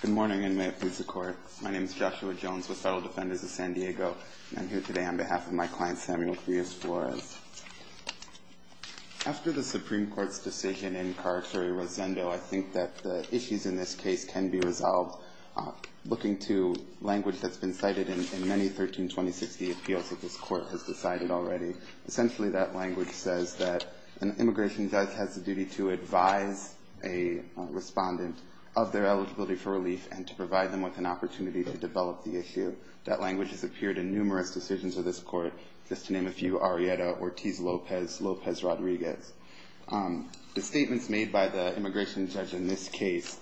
Good morning and may it please the court. My name is Joshua Jones with Federal Defenders of San Diego I'm here today on behalf of my client Samuel Frias-Flores After the Supreme Court's decision in Carceri-Rosendo, I think that the issues in this case can be resolved Looking to language that's been cited in many 132060 appeals that this court has decided already essentially that language says that an immigration judge has the duty to advise a Correspondent of their eligibility for relief and to provide them with an opportunity to develop the issue That language has appeared in numerous decisions of this court just to name a few Arrieta Ortiz Lopez Lopez Rodriguez The statements made by the immigration judge in this case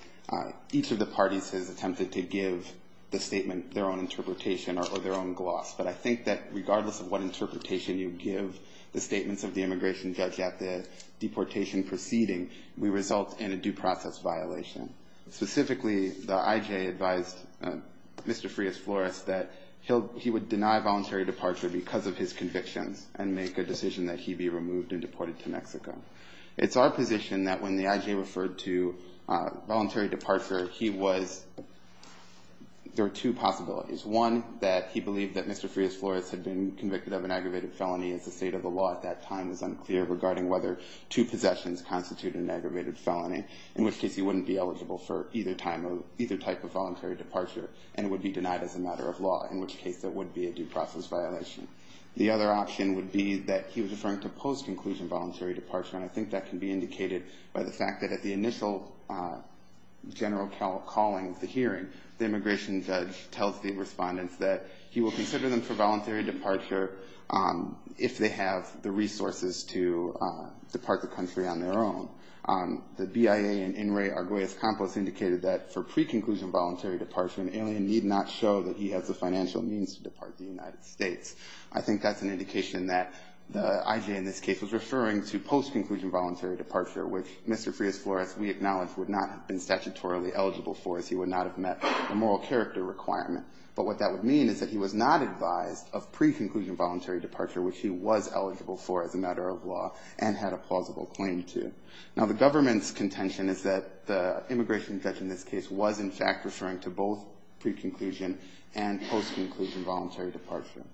Each of the parties has attempted to give the statement their own interpretation or their own gloss but I think that regardless of what interpretation you give the statements of the immigration judge at the Deportation proceeding we result in a due process violation Specifically the IJ advised Mr. Frias-Flores that he would deny voluntary departure because of his convictions and make a decision that he be removed and deported to Mexico It's our position that when the IJ referred to voluntary departure he was There are two possibilities one that he believed that Mr. Frias-Flores had been convicted of an aggravated felony as the state of the law at that time is unclear regarding whether two possessions constitute an aggravated felony in which case he wouldn't be eligible for either time of either type of voluntary departure and it would Be denied as a matter of law in which case that would be a due process violation The other option would be that he was referring to post-inclusion voluntary departure And I think that can be indicated by the fact that at the initial General call calling the hearing the immigration judge tells the respondents that he will consider them for voluntary departure if they have the resources to Depart the country on their own The BIA and in Ray Arguez-Campos indicated that for pre-conclusion voluntary departure an alien need not show that he has the financial means to depart The United States. I think that's an indication that the IJ in this case was referring to post-conclusion voluntary departure Which Mr. Frias-Flores we acknowledge would not have been statutorily eligible for as he would not have met the moral character requirement But what that would mean is that he was not advised of pre-conclusion voluntary departure Which he was eligible for as a matter of law and had a plausible claim to. Now the government's contention is that the Immigration judge in this case was in fact referring to both pre-conclusion and post-conclusion voluntary departure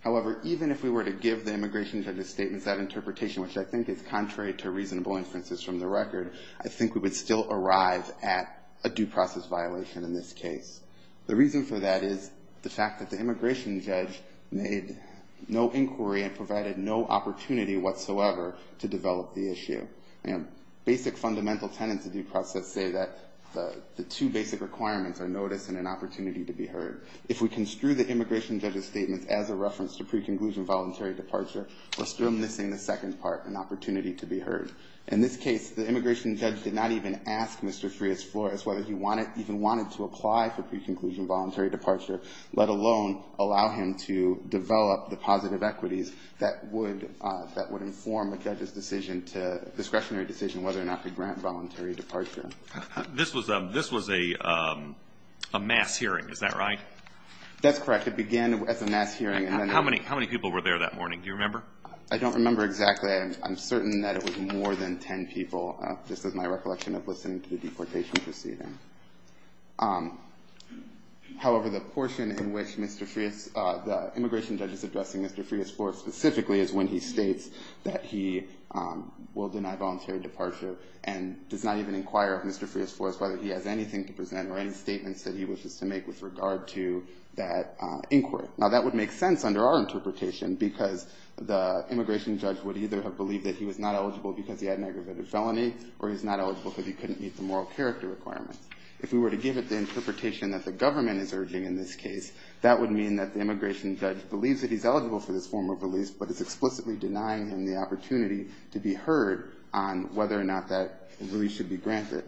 However, even if we were to give the immigration judge's statements that interpretation Which I think is contrary to reasonable inferences from the record I think we would still arrive at a due process violation in this case The reason for that is the fact that the immigration judge made no inquiry and provided no opportunity whatsoever to develop the issue. Basic fundamental tenets of due process say that The two basic requirements are notice and an opportunity to be heard. If we construe the immigration judge's statements as a reference to pre-conclusion Voluntary departure, we're still missing the second part, an opportunity to be heard. In this case the immigration judge did not even ask Mr. Pre-conclusion voluntary departure, let alone allow him to develop the positive equities that would That would inform a judge's decision to discretionary decision whether or not to grant voluntary departure This was a Mass hearing, is that right? That's correct. It began as a mass hearing. How many people were there that morning? Do you remember? I don't remember exactly I'm certain that it was more than ten people. This is my recollection of listening to the deportation proceeding However, the portion in which Mr. Frias, the immigration judge is addressing Mr. Frias for specifically is when he states that he Will deny voluntary departure and does not even inquire of Mr. Frias for us whether he has anything to present or any statements that he wishes to make with regard to that inquiry Now that would make sense under our interpretation because the immigration judge would either have believed that he was not eligible because he had an aggravated felony Or he's not eligible because he couldn't meet the moral character requirements If we were to give it the interpretation that the government is urging in this case That would mean that the immigration judge believes that he's eligible for this form of release But it's explicitly denying him the opportunity to be heard on whether or not that really should be granted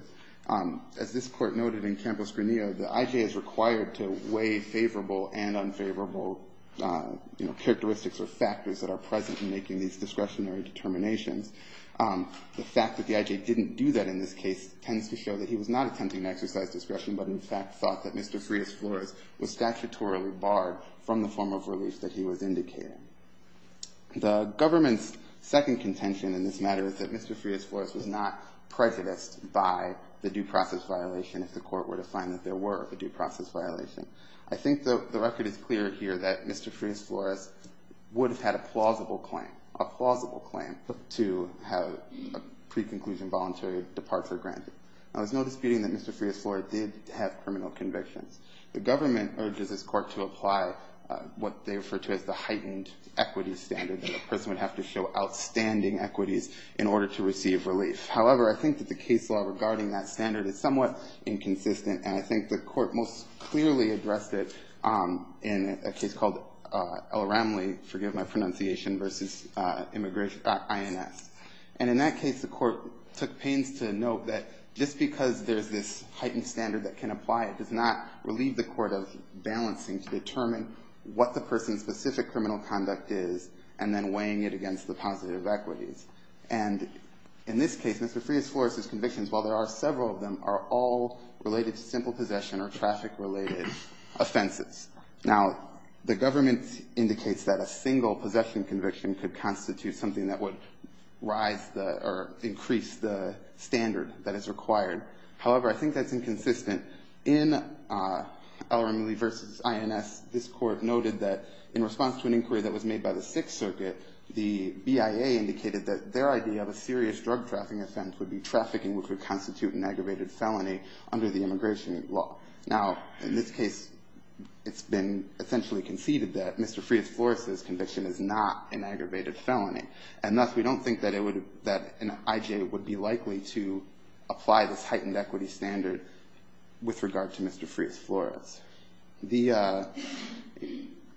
As this court noted in Campos-Granillo, the IJ is required to weigh favorable and unfavorable You know characteristics or factors that are present in making these discretionary determinations The fact that the IJ didn't do that in this case tends to show that he was not attempting to exercise discretion But in fact thought that Mr. Frias-Flores was statutorily barred from the form of relief that he was indicating The government's second contention in this matter is that Mr. Frias-Flores was not Prejudiced by the due process violation if the court were to find that there were a due process violation I think the record is clear here that Mr. Frias-Flores Would have had a plausible claim, a plausible claim to have a Preconclusion voluntary departure granted. Now there's no disputing that Mr. Frias-Flores did have criminal convictions The government urges this court to apply What they refer to as the heightened equity standard that a person would have to show Outstanding equities in order to receive relief. However, I think that the case law regarding that standard is somewhat Inconsistent and I think the court most clearly addressed it In a case called L. Ramley, forgive my pronunciation, versus INS. And in that case the court took pains to note that just because there's this heightened standard that can apply It does not relieve the court of balancing to determine what the person's specific criminal conduct is and then weighing it against the positive equities and In this case Mr. Frias-Flores' convictions while there are several of them are all related to simple possession or traffic related Offenses. Now the government indicates that a single possession conviction could constitute something that would Rise the or increase the standard that is required. However, I think that's inconsistent. In L. Ramley versus INS this court noted that in response to an inquiry that was made by the Sixth Circuit The BIA indicated that their idea of a serious drug trafficking offense would be trafficking which would constitute an aggravated felony Under the immigration law. Now in this case It's been essentially conceded that Mr. Frias-Flores' conviction is not an aggravated felony And thus we don't think that it would that an IJ would be likely to Apply this heightened equity standard with regard to Mr. Frias-Flores. The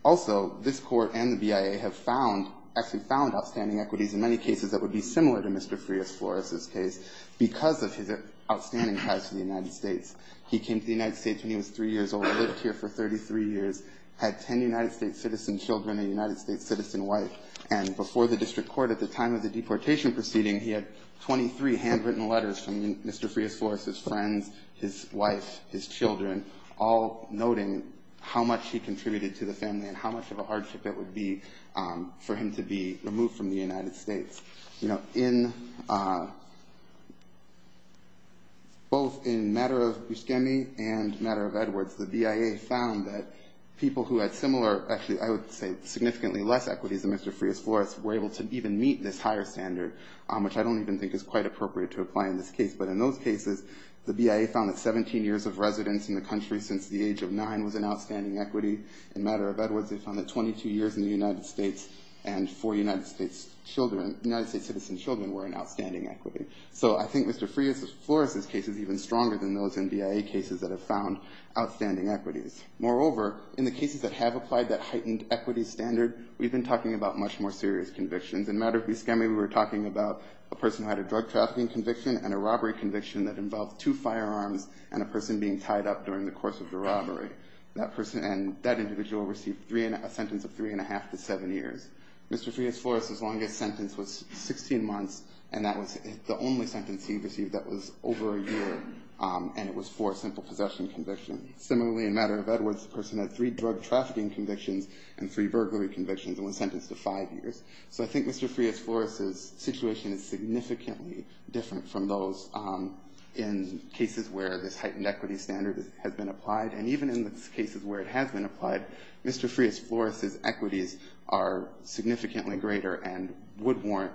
Also this court and the BIA have found actually found outstanding equities in many cases that would be similar to Mr. Frias-Flores' case because of his Outstanding ties to the United States. He came to the United States when he was three years old, lived here for 33 years Had ten United States citizen children a United States citizen wife and before the district court at the time of the deportation proceeding He had 23 handwritten letters from Mr. Frias-Flores' friends, his wife, his children, all noting how much he contributed to the family and how much of a hardship it would be For him to be removed from the United States, you know in Both in Matter of Buscemi and Matter of Edwards the BIA found that people who had similar actually I would say significantly less equities than Mr. Frias-Flores were able to even meet this higher standard Which I don't even think is quite appropriate to apply in this case But in those cases the BIA found that 17 years of residence in the country since the age of nine was an outstanding equity In Matter of Edwards they found that 22 years in the United States and four United States Children, United States citizen children were an outstanding equity So I think Mr. Frias-Flores' case is even stronger than those in BIA cases that have found outstanding equities Moreover in the cases that have applied that heightened equity standard We've been talking about much more serious convictions in Matter of Buscemi We were talking about a person who had a drug trafficking conviction and a robbery conviction that involved two Firearms and a person being tied up during the course of the robbery That person and that individual received three and a sentence of three and a half to seven years Mr. Frias-Flores' longest sentence was 16 months and that was the only sentence he received that was over a year And it was for a simple possession conviction Similarly in Matter of Edwards the person had three drug trafficking convictions and three burglary convictions and was sentenced to five years So I think Mr. Frias-Flores' situation is significantly different from those In cases where this heightened equity standard has been applied and even in the cases where it has been applied Mr. Frias-Flores' equities are Significantly greater and would warrant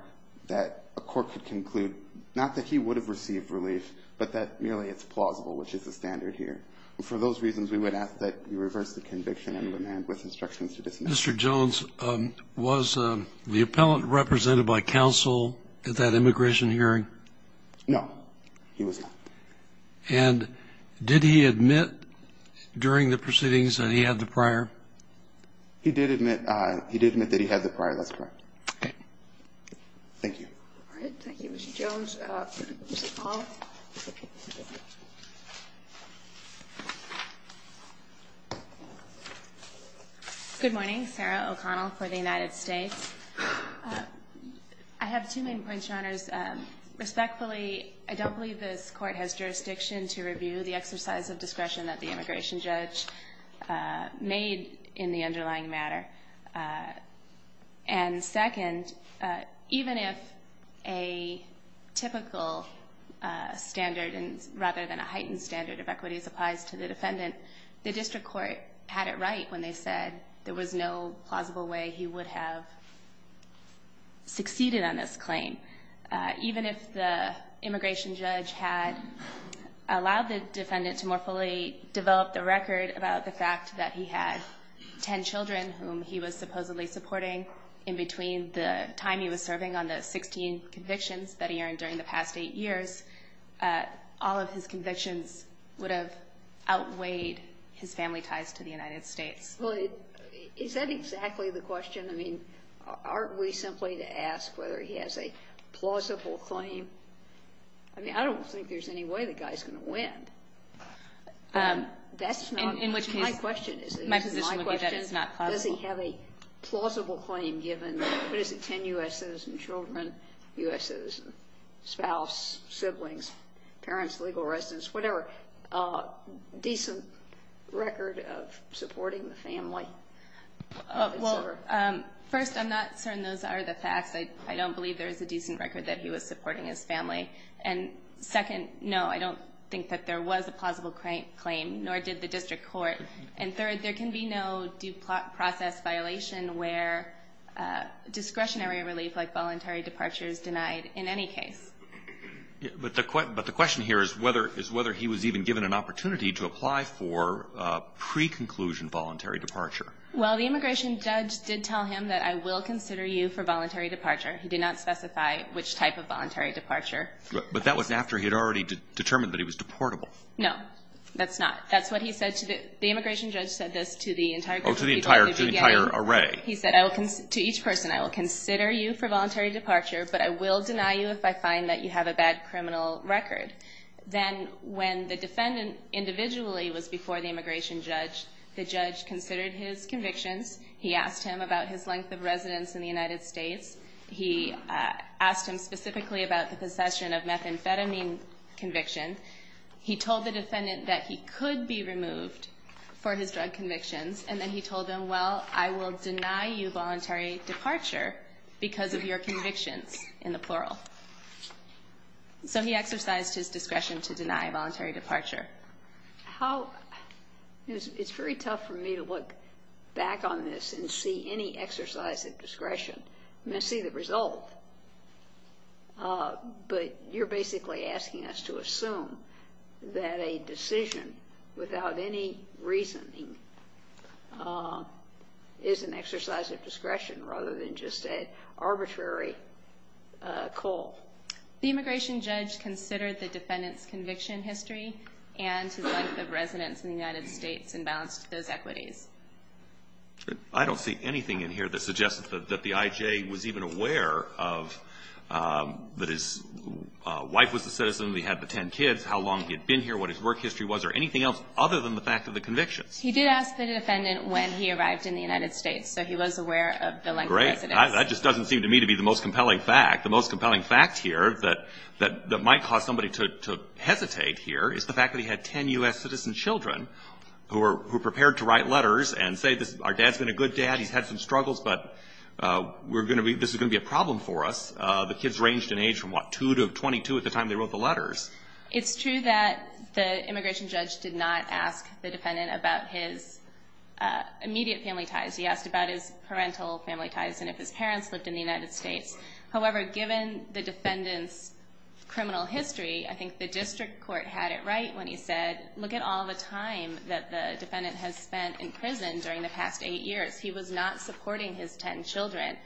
that a court could conclude not that he would have received relief But that merely it's plausible which is the standard here for those reasons We would ask that you reverse the conviction and demand with instructions to dismiss. Mr. Jones Was the appellant represented by counsel at that immigration hearing? No, he was not. And did he admit During the proceedings that he had the prior? He did admit. He did admit that he had the prior. That's correct. Thank you Good morning, Sarah O'Connell for the United States. I have two main points your honors Respectfully, I don't believe this court has jurisdiction to review the exercise of discretion that the immigration judge made in the underlying matter and second even if a Typical Standard and rather than a heightened standard of equities applies to the defendant The district court had it right when they said there was no plausible way he would have Succeeded on this claim even if the immigration judge had Allowed the defendant to more fully develop the record about the fact that he had Ten children whom he was supposedly supporting in between the time he was serving on the 16 convictions that he earned during the past eight years All of his convictions would have outweighed his family ties to the United States Is that exactly the question I mean aren't we simply to ask whether he has a plausible claim I Mean, I don't think there's any way the guy's gonna win That's not in which my question is my position is not does he have a Plausible claim given what is it 10 u.s. Citizen children u.s. Citizen spouse siblings parents legal residents, whatever decent Record of supporting the family First I'm not certain those are the facts. I don't believe there is a decent record that he was supporting his family and Second no, I don't think that there was a plausible claim nor did the district court and third there can be no due process violation where Discretionary relief like voluntary departure is denied in any case But the question but the question here is whether is whether he was even given an opportunity to apply for Pre-conclusion voluntary departure. Well, the immigration judge did tell him that I will consider you for voluntary departure He did not specify which type of voluntary departure, but that was after he had already determined that he was deportable No, that's not that's what he said to the immigration judge said this to the entire to the entire to the entire array He said I will come to each person I will consider you for voluntary departure, but I will deny you if I find that you have a bad criminal record Then when the defendant individually was before the immigration judge the judge considered his convictions He asked him about his length of residence in the United States. He Asked him specifically about the possession of methamphetamine Conviction he told the defendant that he could be removed for his drug convictions And then he told him well, I will deny you voluntary departure because of your convictions in the plural So he exercised his discretion to deny voluntary departure how It's very tough for me to look back on this and see any exercise of discretion. I'm gonna see the result But you're basically asking us to assume that a decision without any reasoning Is an exercise of discretion rather than just a arbitrary call the immigration judge considered the defendants conviction history and The residents in the United States and balanced those equities. I Don't see anything in here that suggests that the IJ was even aware of that his Wife was the citizen we had the ten kids how long he had been here what his work history was or anything else other than The fact of the convictions he did ask the defendant when he arrived in the United States So he was aware of the length, right? I just doesn't seem to me to be the most compelling fact the most compelling fact here that that that might cause somebody to Hesitate here is the fact that he had 10 u.s. Citizen children who were prepared to write letters and say this our dad's been a good dad. He's had some struggles, but We're gonna be this is gonna be a problem for us The kids ranged in age from what 2 to 22 at the time they wrote the letters It's true that the immigration judge did not ask the defendant about his Immediate family ties. He asked about his parental family ties and if his parents lived in the United States, however given the defendants criminal history I think the district court had it right when he said look at all the time that the Defendant has spent in prison during the past eight years. He was not supporting his ten children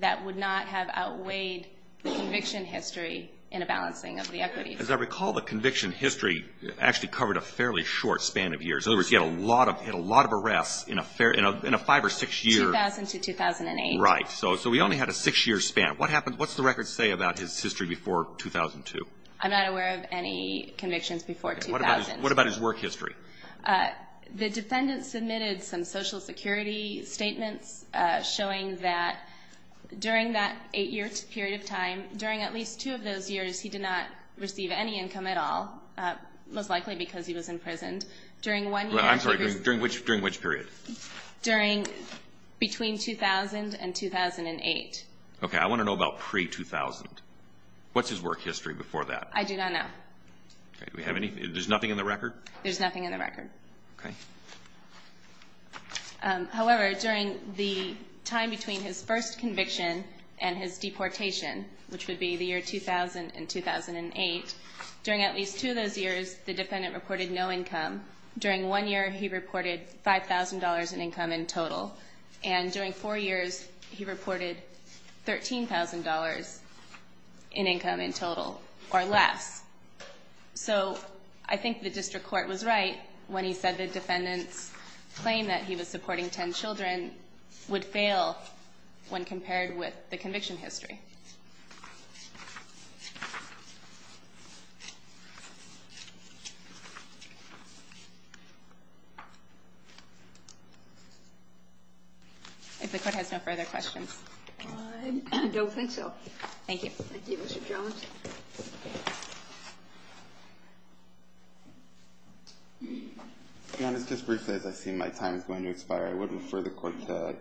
That would not have outweighed Conviction history in a balancing of the equity as I recall the conviction history Actually covered a fairly short span of years In other words get a lot of hit a lot of arrests in a fair in a five or six year Right. So so we only had a six-year span. What happened? What's the record say about his history before 2002? I'm not aware of any convictions before 2000. What about his work history? The defendant submitted some Social Security Statements showing that During that eight years period of time during at least two of those years. He did not receive any income at all Most likely because he was in prison during one. I'm sorry during which during which period? during Between 2000 and 2008. Okay. I want to know about pre-2000. What's his work history before that? I do not know We have anything. There's nothing in the record. There's nothing in the record, okay However, during the time between his first conviction and his deportation Which would be the year 2000 and 2008 during at least two of those years the defendant reported no income During one year. He reported $5,000 in income in total and during four years. He reported $13,000 in income in total or less So I think the district court was right when he said the defendants claim that he was supporting ten children Would fail when compared with the conviction history If the court has no further questions, I don't think so. Thank you I Was just briefly as I've seen my time is going to expire I would refer the court to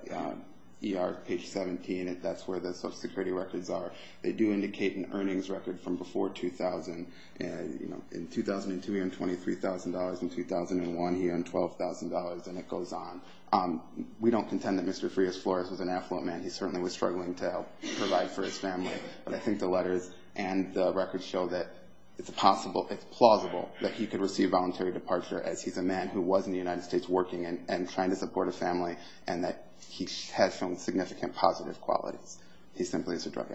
ER page 17 if that's where the Social Security records are. They do indicate an earnings record from before 2000 and you know in 2002 and $23,000 in 2001 here and $12,000 and it goes on We don't contend that. Mr. Frears Flores was an affluent man He certainly was struggling to help provide for his family But I think the letters and the records show that it's possible It's plausible that he could receive voluntary departure as he's a man who was in the United States working and trying to support a family And that he has shown significant positive qualities. He simply is a drug addict